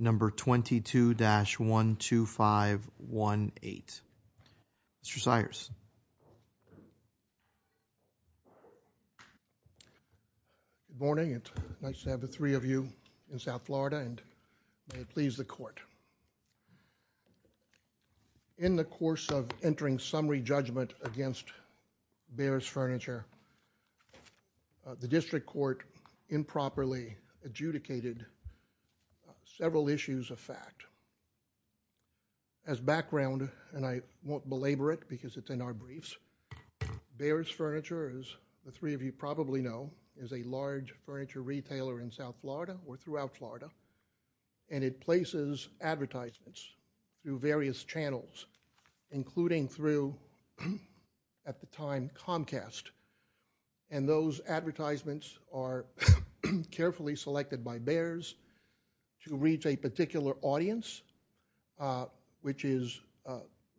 Number 22-12518. Mr. Sires. Good morning. It's nice to have the three of you in South Florida and may it please the court. Thank you. Thank you. Thank you. In the course of entering summary judgment against Baer's Furniture, the district court improperly adjudicated several issues of fact. As background, and I won't belabor it because it's in our briefs, Baer's Furniture, as the three of you probably know, is a large furniture retailer in South Florida or throughout Florida and it places advertisements through various channels, including through, at the time, Comcast. And those advertisements are carefully selected by Baer's to reach a particular audience which is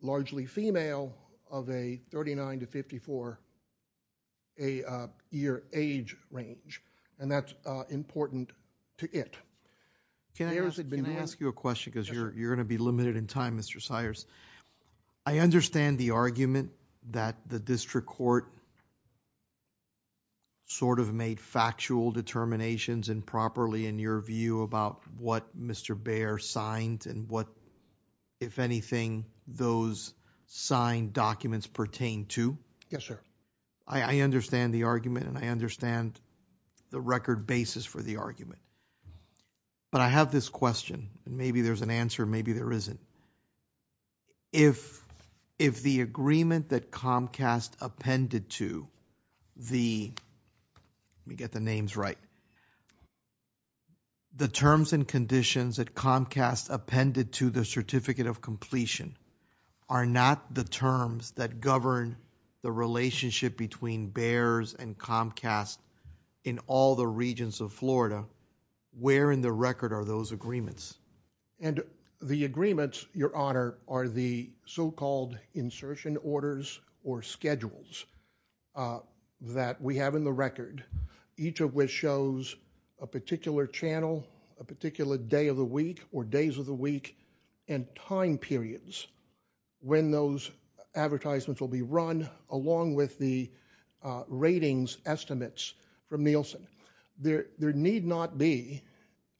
largely female of a 39 to 54 year age range. And that's important to it. Can I ask you a question? Because you're going to be limited in time, Mr. Sires. I understand the argument that the district court sort of made factual determinations improperly in your view about what Mr. Baer signed and what, if anything, those signed documents pertain to. Yes, sir. I understand the argument and I understand the record basis for the argument. But I have this question, and maybe there's an answer, maybe there isn't. If the agreement that Comcast appended to the, let me get the names right, the terms and conditions that Comcast appended to the Certificate of Completion are not the terms that govern the relationship between Comcast in all the regions of Florida, where in the record are those agreements? And the agreements, Your Honor, are the so-called insertion orders or schedules that we have in the record, each of which shows a particular channel, a particular day of the week or days of the week and time periods when those advertisements will be run along with the ratings estimates from Nielsen. There need not be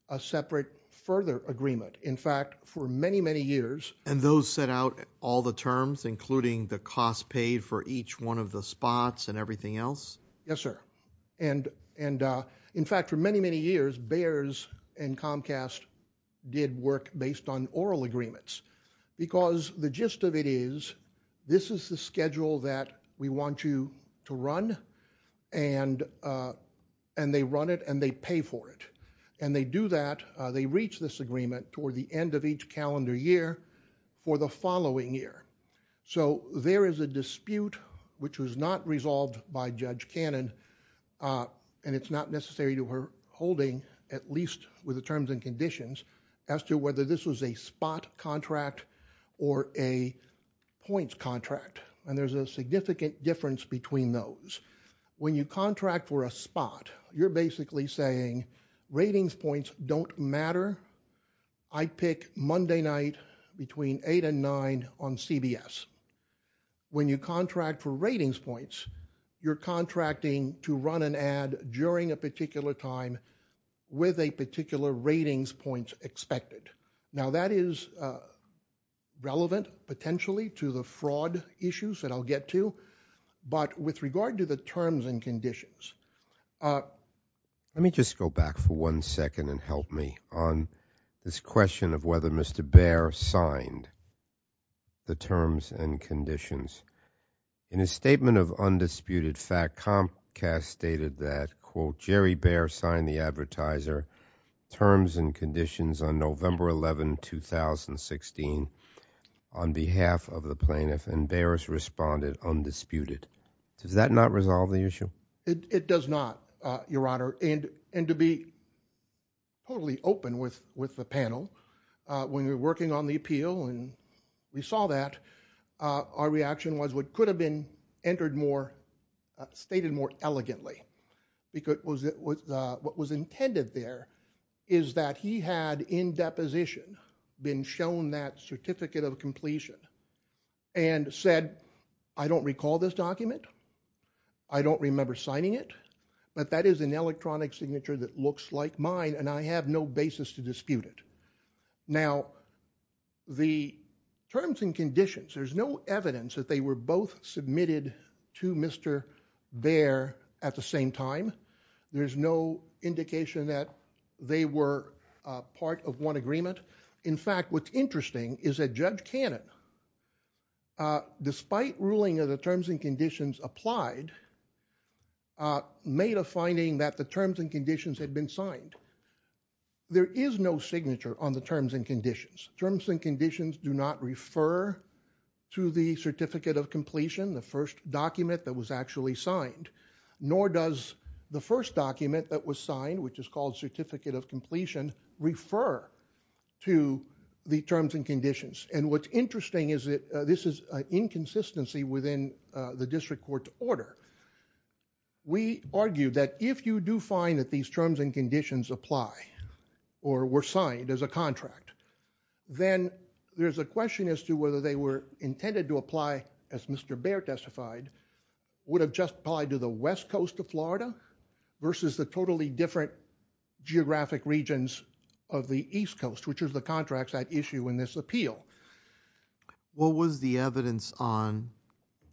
a separate further agreement. In fact, for many, many years... And those set out all the terms, including the cost paid for each one of the spots and everything else? Yes, sir. And in fact, for many, many years Baer's and Comcast did work based on oral agreements because the gist of it is this is the schedule that we want you to run and they run it and they pay for it and they do that, they reach this agreement toward the end of each calendar year for the following year. So there is a dispute which was not resolved by Judge Cannon and it's not necessary to her holding at least with the terms and conditions as to whether this was a spot contract or a points contract, and there's a significant difference between those. When you contract for a spot, you're basically saying ratings points don't matter. I pick Monday night between 8 and 9 on CBS. When you contract for ratings points, you're contracting to run an ad during a particular time with a Now that is relevant potentially to the fraud issues that I'll get to but with regard to the terms and conditions Let me just go back for one second and help me on this question of whether Mr. Baer signed the terms and conditions. In his statement of undisputed fact, Comcast stated that quote, Jerry Baer signed the advertiser terms and conditions on November 11, 2016 on behalf of the plaintiff and Baer's responded undisputed. Does that not resolve the issue? It does not Your Honor, and to be totally open with the panel when we were working on the appeal and we saw that our reaction was what could have been entered more stated more elegantly What was intended there is that he had in deposition been shown that certificate of completion and said, I don't recall this document I don't remember signing it but that is an electronic signature that looks like mine and I have no basis to dispute it. Now the terms and conditions there's no evidence that they were both submitted to Mr. Baer at the same time there's no indication that they were part of one agreement in fact what's interesting is that Judge Cannon despite ruling of the terms and conditions applied made a finding that the terms and conditions had been signed there is no signature on the terms and conditions terms and conditions do not refer to the certificate of completion the first document that was actually signed nor does the first document that was signed which is called certificate of completion refer to the terms and conditions and what's interesting is that this is an inconsistency within the district court's order we argue that if you do find that these terms and conditions apply or were signed as a contract then there's a question as to whether they were intended to apply as Mr. Baer testified would have just applied to the west coast of Florida versus the totally different geographic regions of the east coast which is the contracts at issue in this appeal What was the evidence on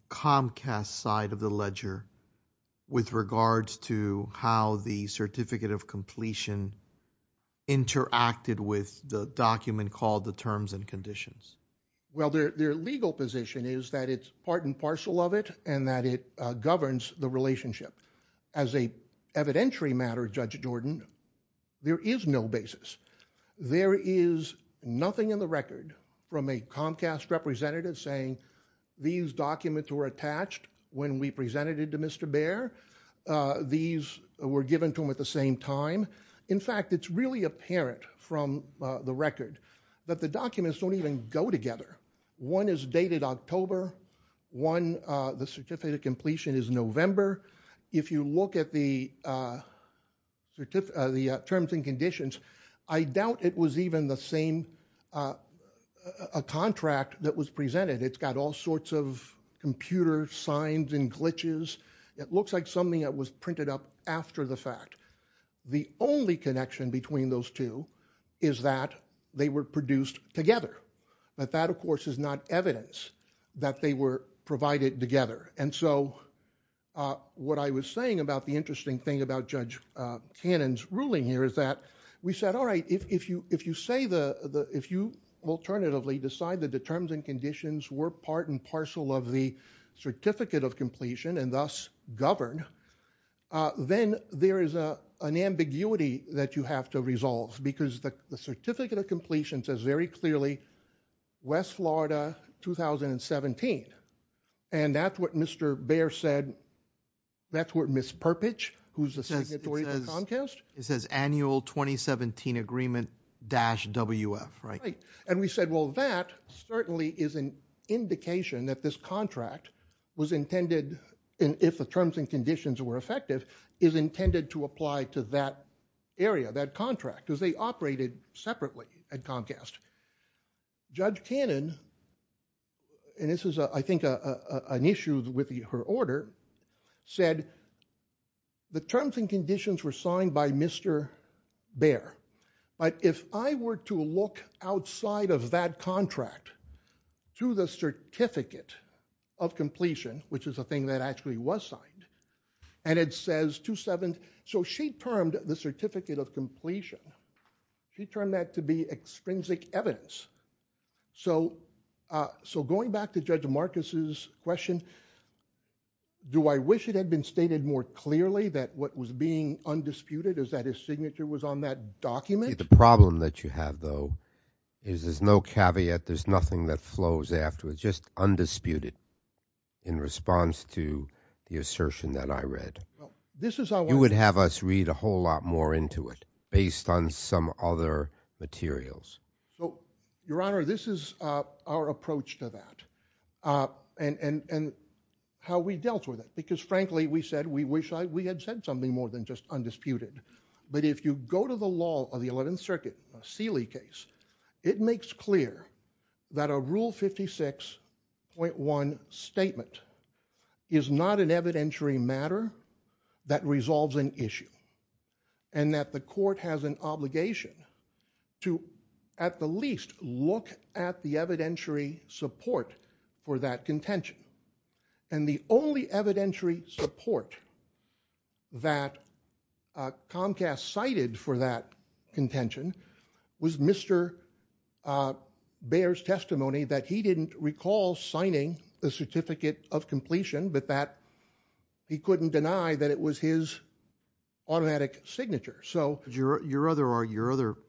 Comcast's side of the ledger with regards to how the certificate of completion interacted with the document called the terms and conditions their legal position is that it's part and parcel of it and that it governs the relationship as a evidentiary matter Judge Jordan there is no basis there is nothing in the record from a Comcast representative saying these documents were attached when we presented it to Mr. Baer these were given to him at the same time in fact it's really apparent from the record that the documents don't even go together one is dated October the certificate of completion is November if you look at the terms and conditions I doubt it was even the same contract that was presented it's got all sorts of computer signs and glitches it looks like something that was printed up after the fact the only connection between those two is that they were produced together but that of course is not evidence that they were provided together and so what I was saying about the interesting thing about Judge Cannon's ruling here is that we said alright if you alternatively decide that the terms and conditions were part and parcel of the certificate of completion and thus govern then there is an ambiguity that you have to resolve because the certificate of completion says very clearly West Florida 2017 and that's what Mr. Baer said that's what Ms. Perpich who's the signatory to Comcast it says annual 2017 agreement dash WF right and we said well that certainly is an indication that this contract was intended if the terms and conditions were effective is intended to apply to that area that contract as they operated separately at Comcast Judge Cannon and this is I think an issue with her order said the terms and conditions were signed by Mr. Baer but if I were to look outside of that contract to the certificate of completion which is a thing that actually was signed and it says 27 so she termed the certificate of completion she turned that to be extrinsic evidence so going back to Judge Marcus's question do I wish it had been stated more clearly that what was being undisputed is that his signature was on that document? The problem that you have though is there's no caveat there's nothing that flows afterwards just undisputed in response to the assertion that I read you would have us read a whole lot more into it based on some other materials your honor this is our approach to that and how we dealt with it because frankly we said we wish we had said something more than just undisputed but if you go to the law of the 11th circuit a Seeley case it makes clear that a rule 56 .1 statement is not an evidentiary matter that resolves an issue and that the court has an obligation to at the least look at the evidentiary support for that contention and the only evidentiary support that Comcast cited for that contention was Mr. Baer's testimony that he didn't recall signing the certificate of completion but that he couldn't deny that it was his automatic signature. Your other alternative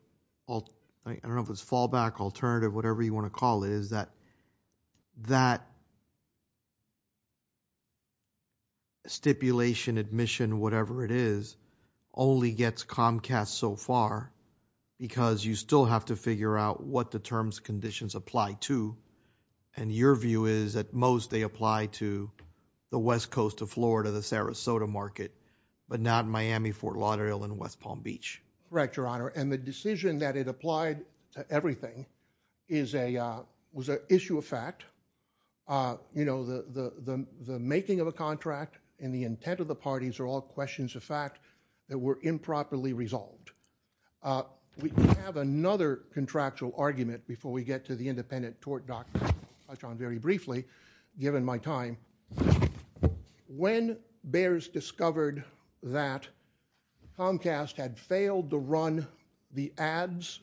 I don't know if it's fallback alternative whatever you want to call it is that that stipulation admission whatever it is only gets Comcast so far because you still have to figure out what the terms conditions apply to and your view is at most they apply to the west coast of Florida the Sarasota market but not Miami Fort Lauderdale and West Palm Beach. Correct Your Honor and the decision that it applied to everything is a was a issue of fact you know the making of a contract and the intent of the parties are all questions of fact that were improperly resolved. We have another contractual argument before we get to the independent tort document very briefly given my time when Baer's discovered that Comcast had failed to run the ads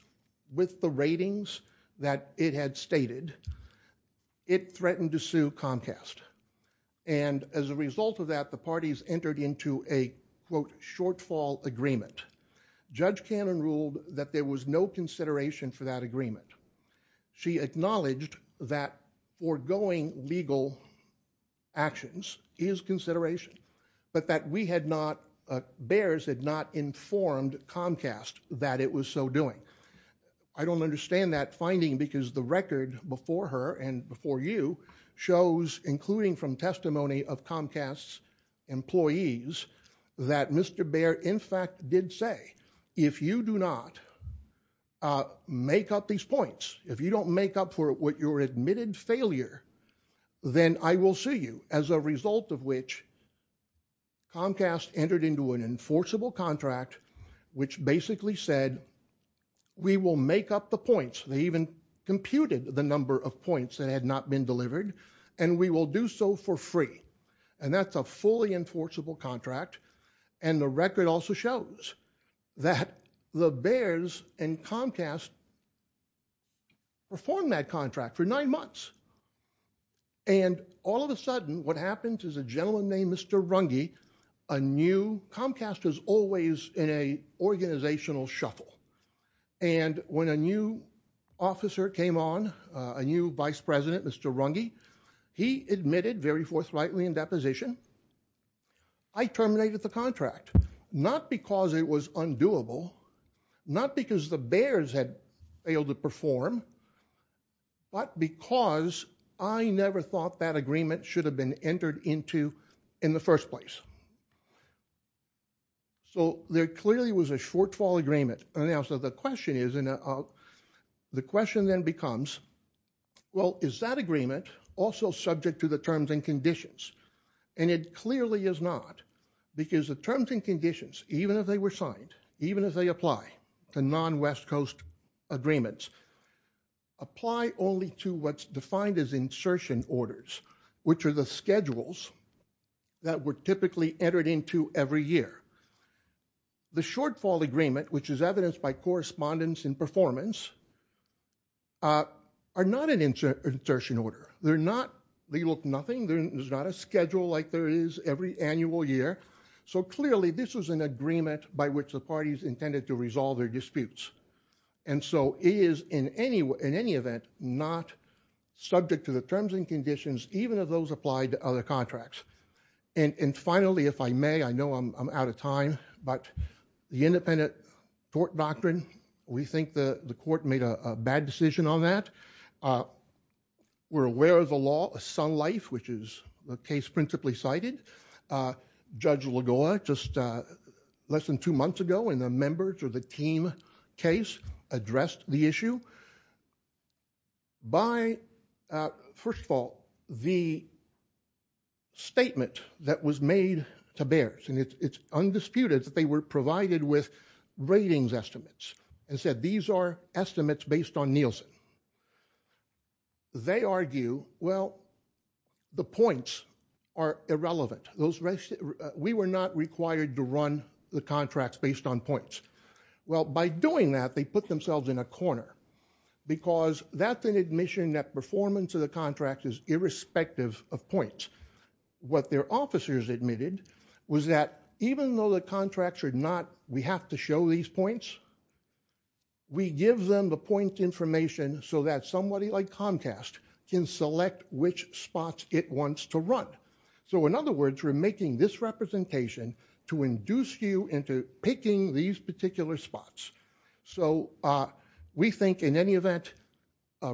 with the ratings that it had stated it threatened to sue Comcast and as a result of that the parties entered into a quote shortfall agreement. Judge Cannon ruled that there was no consideration for that agreement she acknowledged that foregoing legal actions is consideration but that we had not Baer's had not informed Comcast that it was so doing. I don't understand that finding because the record before her and before you shows including from testimony of Comcast's employees that Mr. Baer in fact did say if you do not make up these points if you don't make up for what your admitted failure then I will sue you as a result of which Comcast entered into an enforceable contract which basically said we will make up the points they even computed the number of points that had not been delivered and we will do so for free and that's a fully enforceable contract and the record also shows that the Baer's and Comcast performed that contract for nine months and all of a sudden what happens is a gentleman named Mr. Runge a new Comcast is always in a organizational shuffle and when a new officer came on a new vice president Mr. Runge he admitted very forthrightly in that position I terminated the contract not because it was undoable not because the Baer's had failed to perform but because I never thought that agreement should have been entered into in the first place so there clearly was a shortfall agreement and so the question is the question then becomes well is that agreement also subject to the terms and conditions and it clearly is not because the terms and conditions even if they were signed even if they apply to non-West Coast agreements apply only to what's defined as insertion orders which are the schedules that were typically entered into every year. The shortfall agreement which is evidenced by correspondence and performance are not an insertion order they're not they look nothing there's not a schedule like there is every annual year so clearly this was an agreement by which the parties intended to resolve their disputes and so it is in any event not subject to the terms and conditions even if those applied to other contracts and finally if I may I know I'm out of time but the independent tort doctrine we think the court made a bad decision on that we're aware of the law of some life which is the case principally cited Judge Lagoa just less than two months ago and the members of the team case addressed the issue by first of all the statement that was made to bears and it's undisputed that they were provided with ratings estimates and said these are estimates based on Nielsen. They argue the points are irrelevant we were not required to run the contracts based on points. Well by doing that they put themselves in a corner because that's an admission that performance of the contract is irrespective of points. What their officers admitted was that even though the contracts are not we have to show these points we give them the point information so that somebody like us can select which spots it wants to run so in other words we're making this representation to induce you into picking these particular spots so we think in any event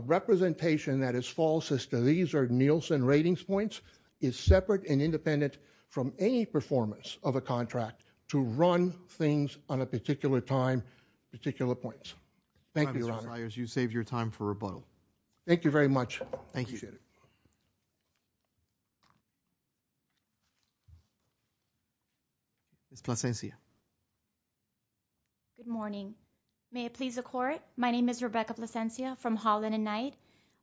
representation that is false as to these are Nielsen ratings points is separate and independent from any performance of a contract to run things on a particular time particular points. Thank you. Thank you very much. Thank you. Ms. Plasencia. Good morning. May it please the court. My name is Rebecca Plasencia from Holland and Knight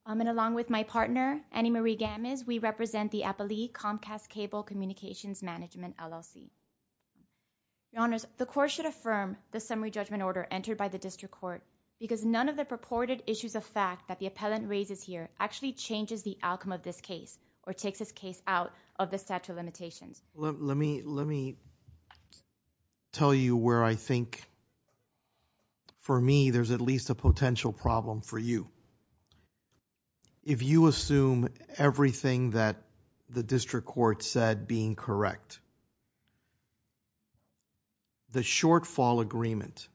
and along with my partner Annie Marie Gamis we represent the Appley Comcast cable communications management LLC. Your honors the court should affirm the summary judgment order entered by the one of the purported issues of fact that the appellant raises here actually changes the outcome of this case or takes this case out of the statute of limitations. Let me tell you where I think for me there's at least a potential problem for you. If you assume everything that the district court said being correct the shortfall agreement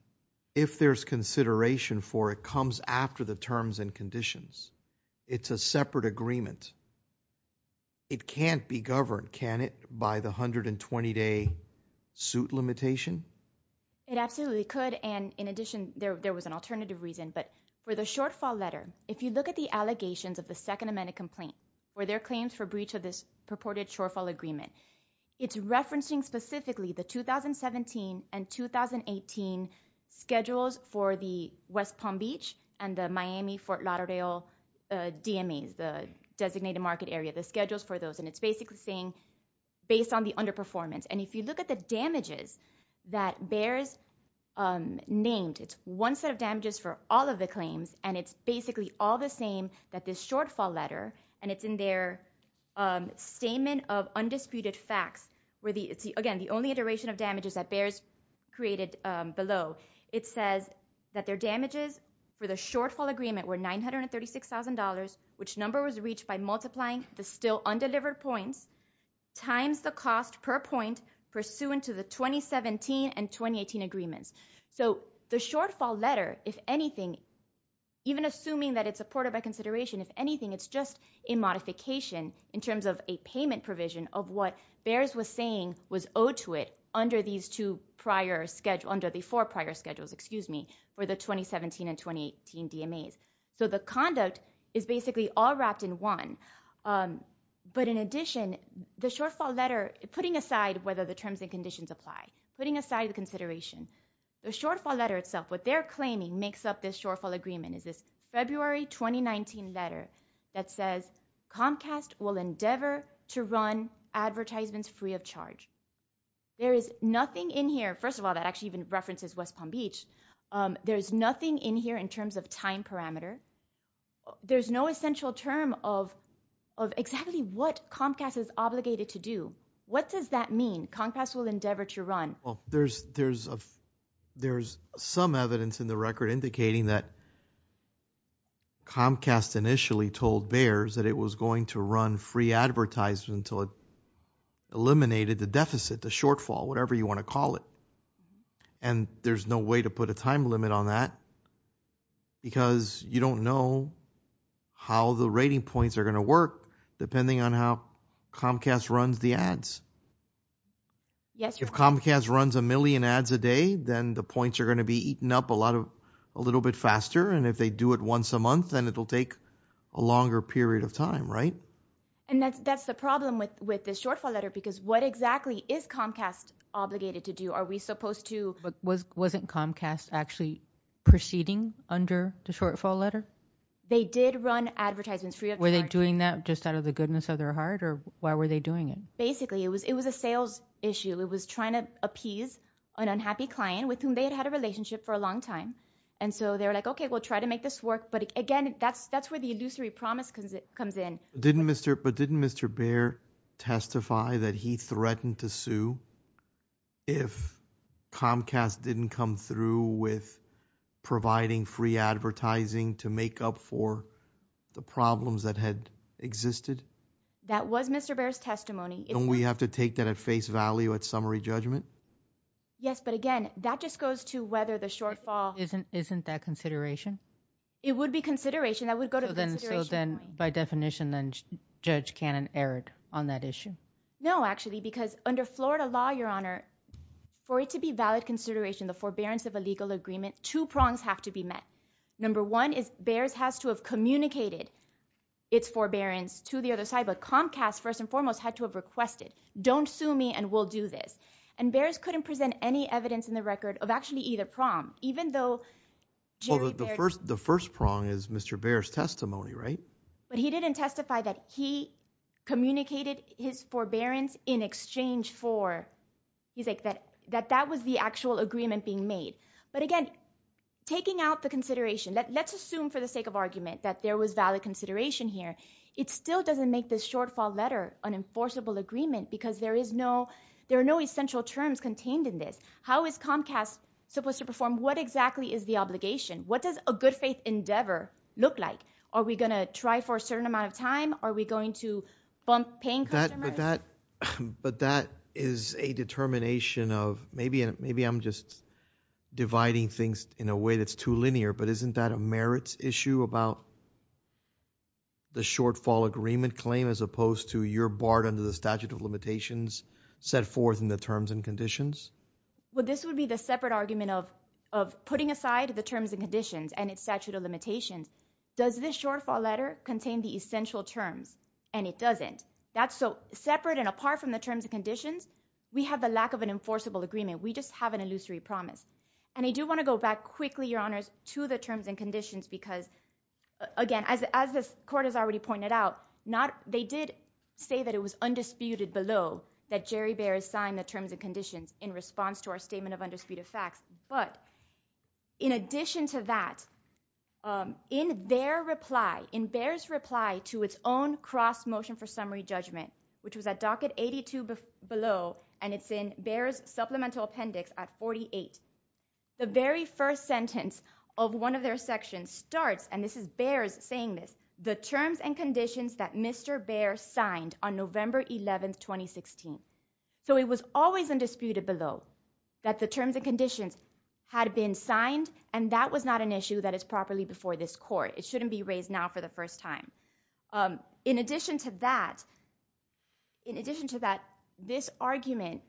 if there's consideration for it comes after the terms and conditions it's a separate agreement. It can't be governed can it by the hundred and twenty day suit limitation. It absolutely could and in addition there was an alternative reason but for the shortfall letter if you look at the allegations of the second amendment complaint where their claims for breach of this purported shortfall agreement it's referencing specifically the 2017 and 2018 schedules for the West Palm Beach and the Miami Fort Lauderdale DME the designated market area the schedules for those and it's basically saying based on the underperformance and if you look at the damages that bears named it's one set of damages for all of the claims and it's basically all the same that this shortfall letter and it's in their statement of undisputed facts where the again the only duration of damages that bears created below it says that their damages for the shortfall agreement were $936,000 which number was reached by multiplying the still undelivered points times the cost per point pursuant to the 2017 and 2018 agreements so the shortfall letter if anything even assuming that it's supported by consideration if anything it's just a modification in terms of a payment provision of what bears was saying was owed to it under these two prior schedule under the four prior schedules excuse me for the 2017 and 2018 DME so the conduct is basically all wrapped in one but in addition the shortfall letter putting aside whether the terms and conditions apply putting aside the consideration the shortfall letter itself what they're claiming makes up this shortfall agreement is February 2019 letter that says Comcast will endeavor to run advertisements free of charge there is nothing in here first of all that actually even references West Palm Beach there's nothing in here in terms of time parameter there's no essential term of of exactly what Comcast is obligated to do what does that mean Comcast will endeavor to run well there's there's a there's some evidence in the record indicating that Comcast initially told bears that it was going to run free advertisement until it eliminated the deficit the shortfall whatever you want to call it and there's no way to put a time limit on that because you don't know how the rating points are going to work depending on how Comcast runs the ads yes if Comcast runs a million ads a day then the points are going to be eaten up a lot of a little bit faster and if they do it once a month then it'll take a longer period of time right and that's that's the problem with with this shortfall letter because what exactly is Comcast obligated to do are we supposed to but was wasn't Comcast actually proceeding under the shortfall letter they did run advertisements free of were they doing that just out of the goodness of their heart or why were they doing it basically it was it was a sales issue it was trying to appease an unhappy client with whom they had a relationship for a long time and so they're like okay we'll try to make this work but again that's that's where the illusory promise comes in didn't mr. but didn't mr. bear testify that he threatened to sue if Comcast didn't come through with providing free advertising to make up for the problems that had existed that was mr. bears testimony we have to take that at face value at summary judgment yes but again that just goes to whether the shortfall isn't isn't that consideration it would be consideration that would go to them so then by definition judge canon erred on that issue no actually because under Florida law your honor for it to be valid consideration the forbearance of a legal agreement two prongs have to be met number one is bears has to have communicated its forbearance to the other side but Comcast first and foremost had to have requested don't sue me and we'll do this and bears couldn't present any evidence in the record of actually either prom even though the first the first prong is mr. bears testimony right but he didn't testify that he communicated his forbearance in exchange for he's like that that was the actual agreement being made but again taking out the consideration that let's assume for the sake of argument that there was valid consideration here it still doesn't make this shortfall letter an enforceable agreement because there is no there are no essential terms contained in this how is Comcast supposed to perform what exactly is the obligation what does a good faith endeavor look like are we gonna try for a certain amount of time are we going to bump paying customers but that is a determination of maybe maybe I'm just dividing things in a way that's too linear but isn't that a merits issue about the shortfall agreement claim as opposed to your barred under the statute of limitations set forth in the terms and conditions well this would be the separate argument of of putting aside the terms and conditions and its statute of limitations does this shortfall letter contain the essential terms and it doesn't that's so separate and apart from the terms and conditions we have the lack of an enforceable agreement we just have an illusory promise and I do want to go back quickly your honors to the terms and conditions because again as as this court has already pointed out not they did say that it was undisputed below that Jerry bears sign the terms and conditions in response to our statement of undisputed facts but in addition to that in their reply in bears reply to its own cross motion for summary judgment which was a docket 82 below and it's in bears supplemental appendix at 48 the very first sentence of one of their sections starts and this is bears saying this the terms and conditions that Mr. bear signed on November 11th 2016 so it was always undisputed below that the terms and conditions had been signed and that was not an issue that is properly before this court it shouldn't be in addition to that this argument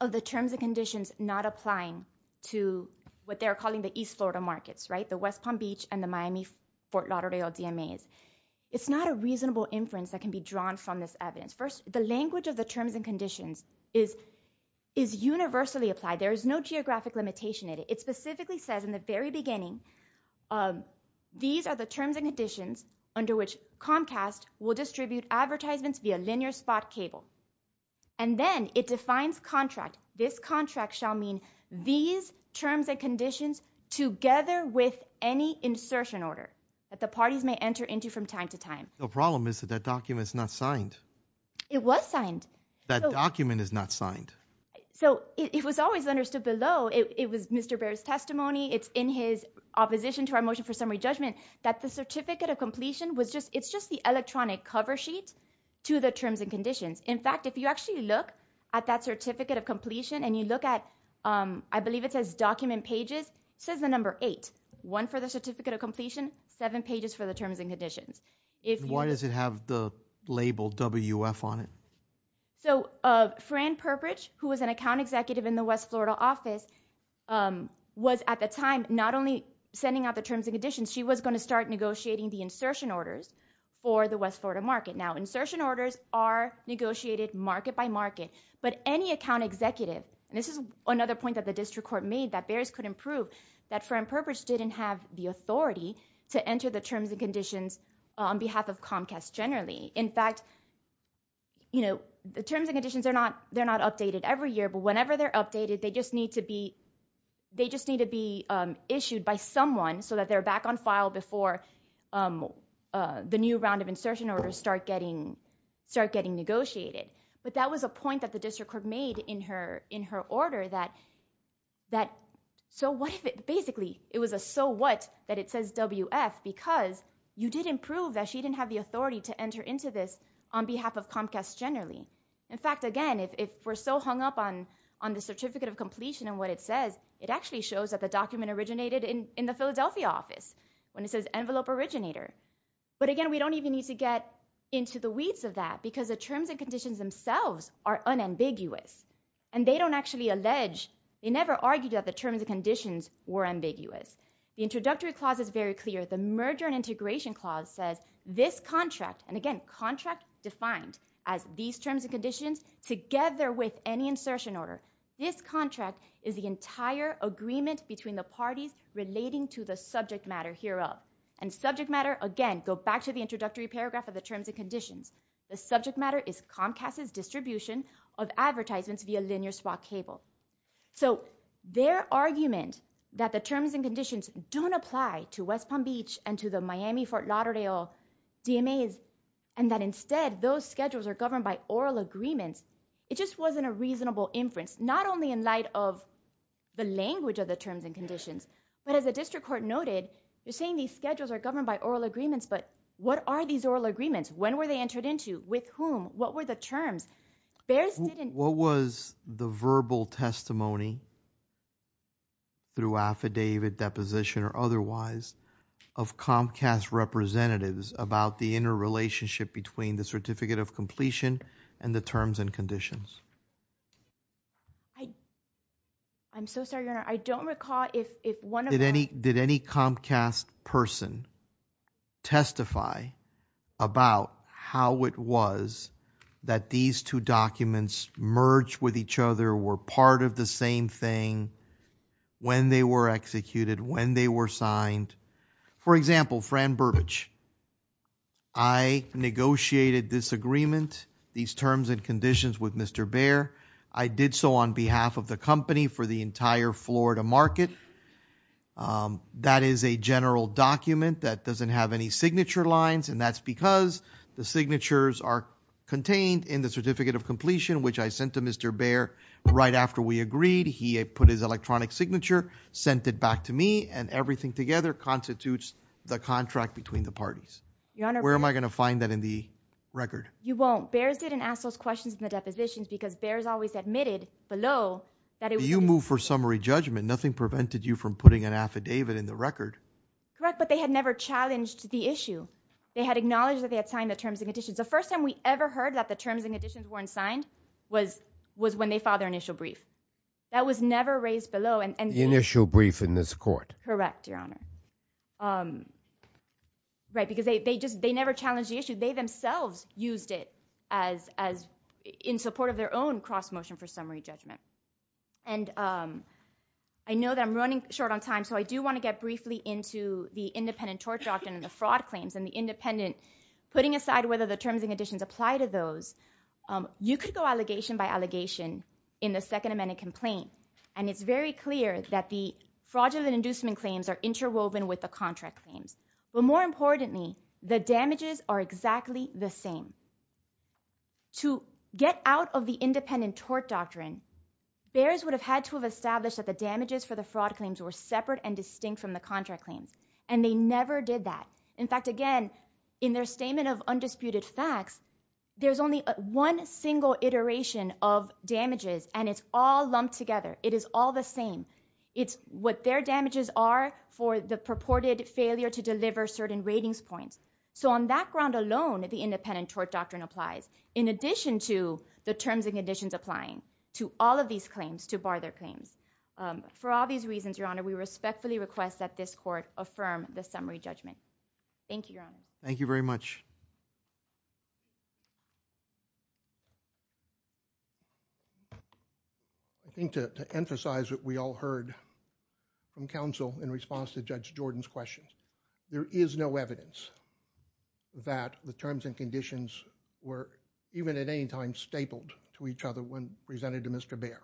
of the terms and conditions not applying to what they're calling the east Florida markets right the West Palm Beach and the Miami Fort Lauderdale DMAs it's not a reasonable inference that can be drawn from this evidence first the language of the terms and conditions is is universally applied there is no geographic limitation it specifically says in the very beginning these are the terms and conditions under which Comcast will distribute advertisements via linear spot cable and then it defines contract this contract shall mean these terms and conditions together with any insertion order that the parties may enter into from time to time the problem is that documents not signed it was signed that document is not signed so it was always understood below it was Mr. bears testimony it's in his opposition to our motion for summary judgment that the certificate of completion was just it's just the electronic cover sheet to the terms and conditions in fact if you actually look at that certificate of completion and you look at I believe it says document pages says the number eight one for the certificate of completion seven pages for the terms and conditions if why does it have the label WF on it so of Fran Perpich who was an account executive in the West Florida office was at the time not only sending out the terms and conditions she was going to start negotiating the insertion orders for the West Florida market now insertion orders are negotiated market by market but any account executive and this is another point that the district court made that bears couldn't prove that Fran Perpich didn't have the authority to enter the terms and conditions on behalf of Comcast generally in fact you know the terms and conditions are not they're not updated every year but whenever they're updated they just need to be they just need to be issued by someone so that they're back on file before the new round of insertion orders start getting start getting negotiated but that was a point that the district court made in her in her order that that so what if it basically it was a so what that it says WF because you didn't prove that she didn't have the authority to enter into this on behalf of Comcast generally in fact again if we're so hung up on on the certificate of completion and what it says it actually shows that the document originated in in the Philadelphia office when it says envelope originator but again we don't even need to get into the weeds of that because the terms and conditions themselves are unambiguous and they don't actually allege they never argued that the terms and conditions were ambiguous the introductory clause is very clear the merger and integration clause says this contract and again contract defined as these terms and conditions together with any insertion order this contract is the entire agreement between the parties relating to the subject matter hereup and subject matter again go back to the introductory paragraph of the terms and conditions the subject matter is Comcast's distribution of advertisements via linear swap cable so their argument that the terms and conditions don't apply to West Palm Beach and to the Miami Fort Lauderdale DMA's and that instead those schedules are governed by oral agreements it just wasn't a reasonable inference not only in light of the language of the terms and conditions but as the district court noted they're saying these schedules are governed by oral agreements but what are these oral agreements? When were they entered into? With whom? What were the terms? What was the verbal testimony through affidavit deposition or otherwise of Comcast representatives about the interrelationship between the certificate of completion and the terms and conditions? I'm so sorry I don't recall if one of them did any Comcast person testify about how it was that these two documents merge with each other were part of the same thing when they were executed when they were signed for example Fran Burbage I negotiated this agreement these terms and conditions with Mr. Bair I did so on behalf of the company for the entire Florida market that is a general document that doesn't have any signature lines and that's because the signatures are contained in the certificate of completion which I sent to Mr. Bair right after we agreed he put his electronic signature sent it back to me and everything together constitutes the contract between the parties where am I going to find that in the record? You won't. Bairs didn't ask those questions in the depositions because Bairs always admitted below that it was... You moved for summary judgment nothing prevented you from putting an affidavit in the record correct but they had never challenged the issue they had acknowledged that they had signed the terms and conditions the first time we ever heard that the terms and conditions weren't signed was when they filed their initial brief that was never raised below the initial brief in this court correct your honor right because they never challenged the issue they themselves used it as in support of their own cross motion for summary judgment and I know that I'm running short on time so I do want to get briefly into the independent tort doctrine and the fraud claims and the independent affidavit putting aside whether the terms and conditions apply to those you could go allegation by allegation in the second amendment complaint and it's very clear that the fraudulent inducement claims are interwoven with the contract claims but more importantly the damages are exactly the same to get out of the independent tort doctrine Bairs would have had to have established that the damages for the fraud claims were separate and distinct from the contract claims and they never did that in fact again in their statement of undisputed facts there's only one single iteration of damages and it's all lumped together it is all the same it's what their damages are for the purported failure to deliver certain ratings points so on that ground alone the independent tort doctrine applies in addition to the terms and conditions applying to all of these claims to bar their claims for all of these reasons your honor we respectfully request that this court affirm the summary judgment thank you your honor thank you very much I think to emphasize what we all heard from counsel in response to Judge Jordan's question there is no evidence that the terms and conditions were even at any time stapled to each other when presented to Mr. Bair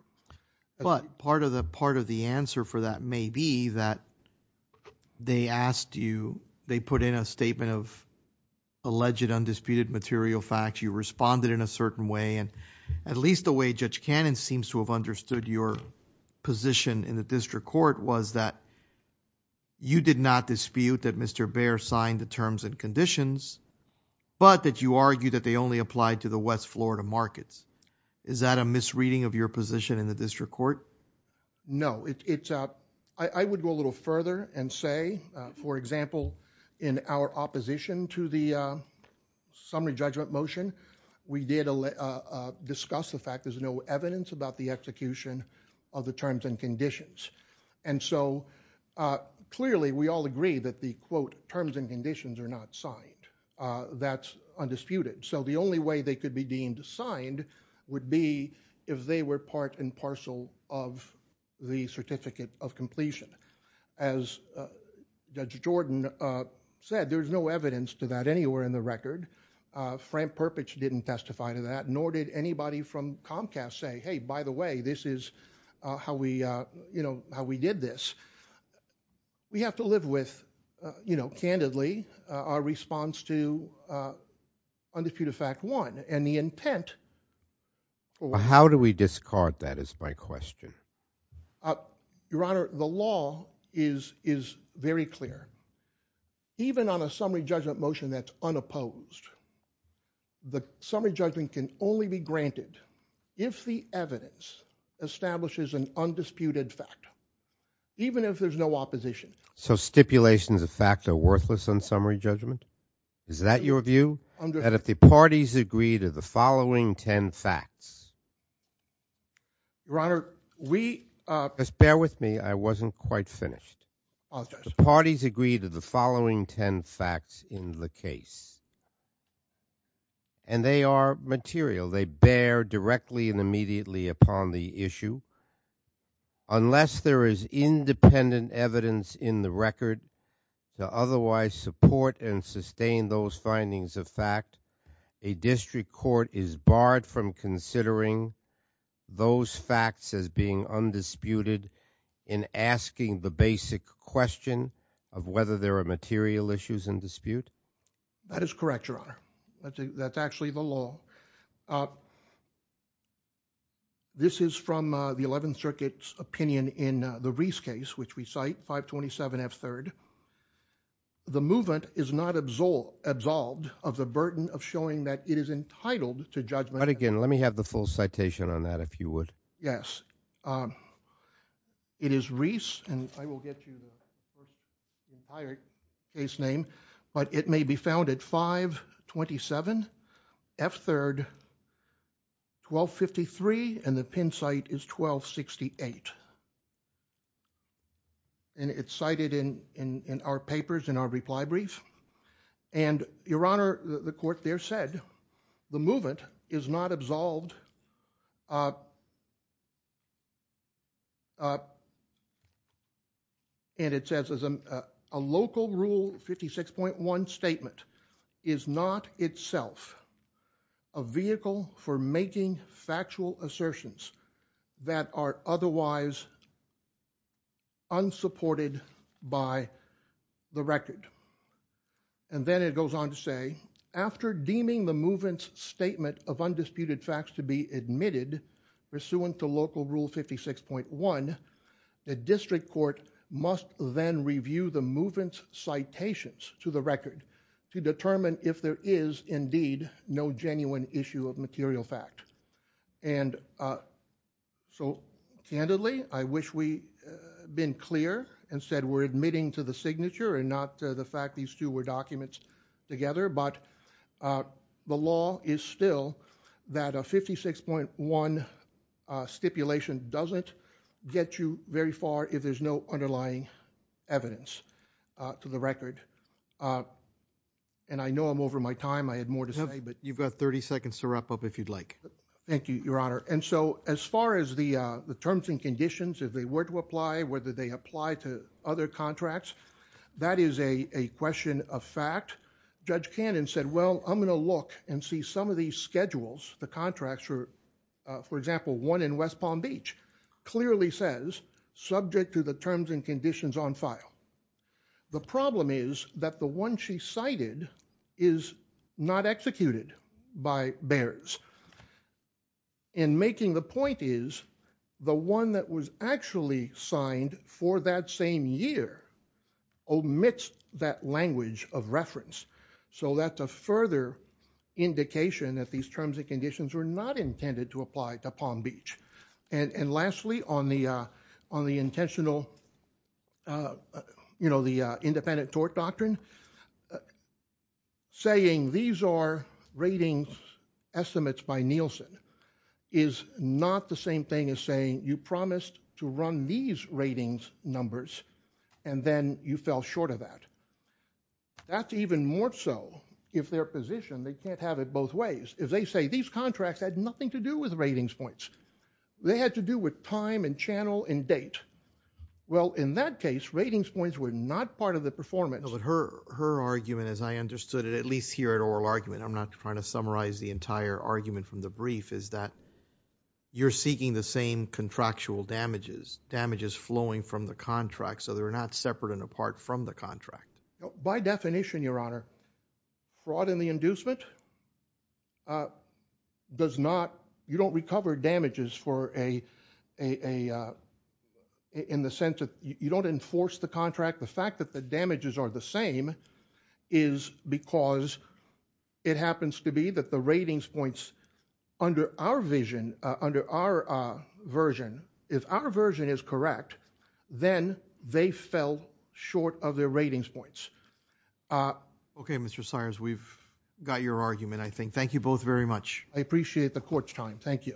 but part of the part of the answer for that may be that they asked you they put in a statement of alleged undisputed material facts you responded in a certain way and at least the way Judge Cannon seems to have understood your position in the district court was that you did not dispute that Mr. Bair signed the terms and conditions but that you argue that they only applied to the West Florida markets is that a misreading of your position in the district court no it's I would go a little further and say for example in our opposition to the summary judgment motion we did discuss the fact there's no evidence about the execution of the terms and conditions and so clearly we all agree that the quote terms and conditions are not signed that's undisputed so the only way they could be deemed assigned would be if they were part and parcel of the certificate of completion as Judge Jordan said there's no evidence to that anywhere in the record Frank Perpich didn't testify to that nor did anybody from Comcast say hey by the way this is how we did this we have to live with you know candidly our response to undisputed fact one and the intent how do we discard that is my question your honor the law is very clear even on a summary judgment motion that's unopposed the summary judgment can only be granted if the evidence establishes an undisputed fact even if there's no opposition so stipulations of fact are worthless on summary judgment is that your view and if the parties agree to the following 10 facts your honor we just bear with me I wasn't quite finished the parties agree to the following 10 facts in the case and they are material they bear directly and immediately upon the issue unless there is independent evidence in the record to otherwise support and sustain those findings of fact a district court is barred from considering those facts as being undisputed in asking the basic question of whether there are material issues in dispute that is correct your honor that's actually the law this is from the 11th circuit's opinion in the Reese case which we cite 527 F3 the movement is not absolved of the burden of showing that it is entitled to judgment but again let me have the full citation on that if you would yes it is Reese and I will get you the entire case name but it may be found at 527 F3 1253 and the pin site is 1268 and it's cited in our papers in our reply brief and your honor the court there said the movement is not absolved and it says a local rule 56.1 statement is not itself a vehicle for making factual assertions that are otherwise unsupported by the record and then it goes on to say after deeming the movement's statement of undisputed facts to be admitted pursuant to local rule 56.1 the district court must then review the movement's citations to the record to determine if there is indeed no genuine issue of material fact so candidly I wish we been clear and said we're admitting to the signature and not the fact these two were documents together but the law is still that 56.1 stipulation doesn't get you very far if there's no underlying evidence to the record and I know I'm over my time I had more to say but you've got 30 seconds to wrap up if you'd like. Thank you your honor and so as far as the terms and conditions if they were to apply whether they apply to other contracts that is a question of fact Judge Cannon said well I'm going to look and see some of these schedules the contracts for example one in West to the terms and conditions on file the problem is that the one she cited is not executed by in making the point is the one that was actually signed for that same year omits that language of reference so that the further indication that these terms and conditions were not intended to apply to Palm Beach and lastly on the intentional you know the independent tort doctrine saying these are ratings estimates by Nielsen is not the same thing as saying you promised to run these ratings numbers and then you fell short of that that's even more so if their position they can't have it both ways if they say these contracts had nothing to do with ratings points they had to do with time and channel and date well in that case ratings points were not part of the performance her argument as I understood it at least here at oral argument I'm not trying to summarize the entire argument from the brief is that you're seeking the same contractual damages damages flowing from the contract so they're not separate and apart from the contract by definition your honor brought in the inducement does not you don't recover damages for a in the sense that you don't enforce the contract the fact that the damages are the same is because it happens to be that the ratings points under our vision under our version if our version is correct then they fell short of their ratings points okay Mr. Sires we've got your argument I think thank you both very much I appreciate the court's time thank you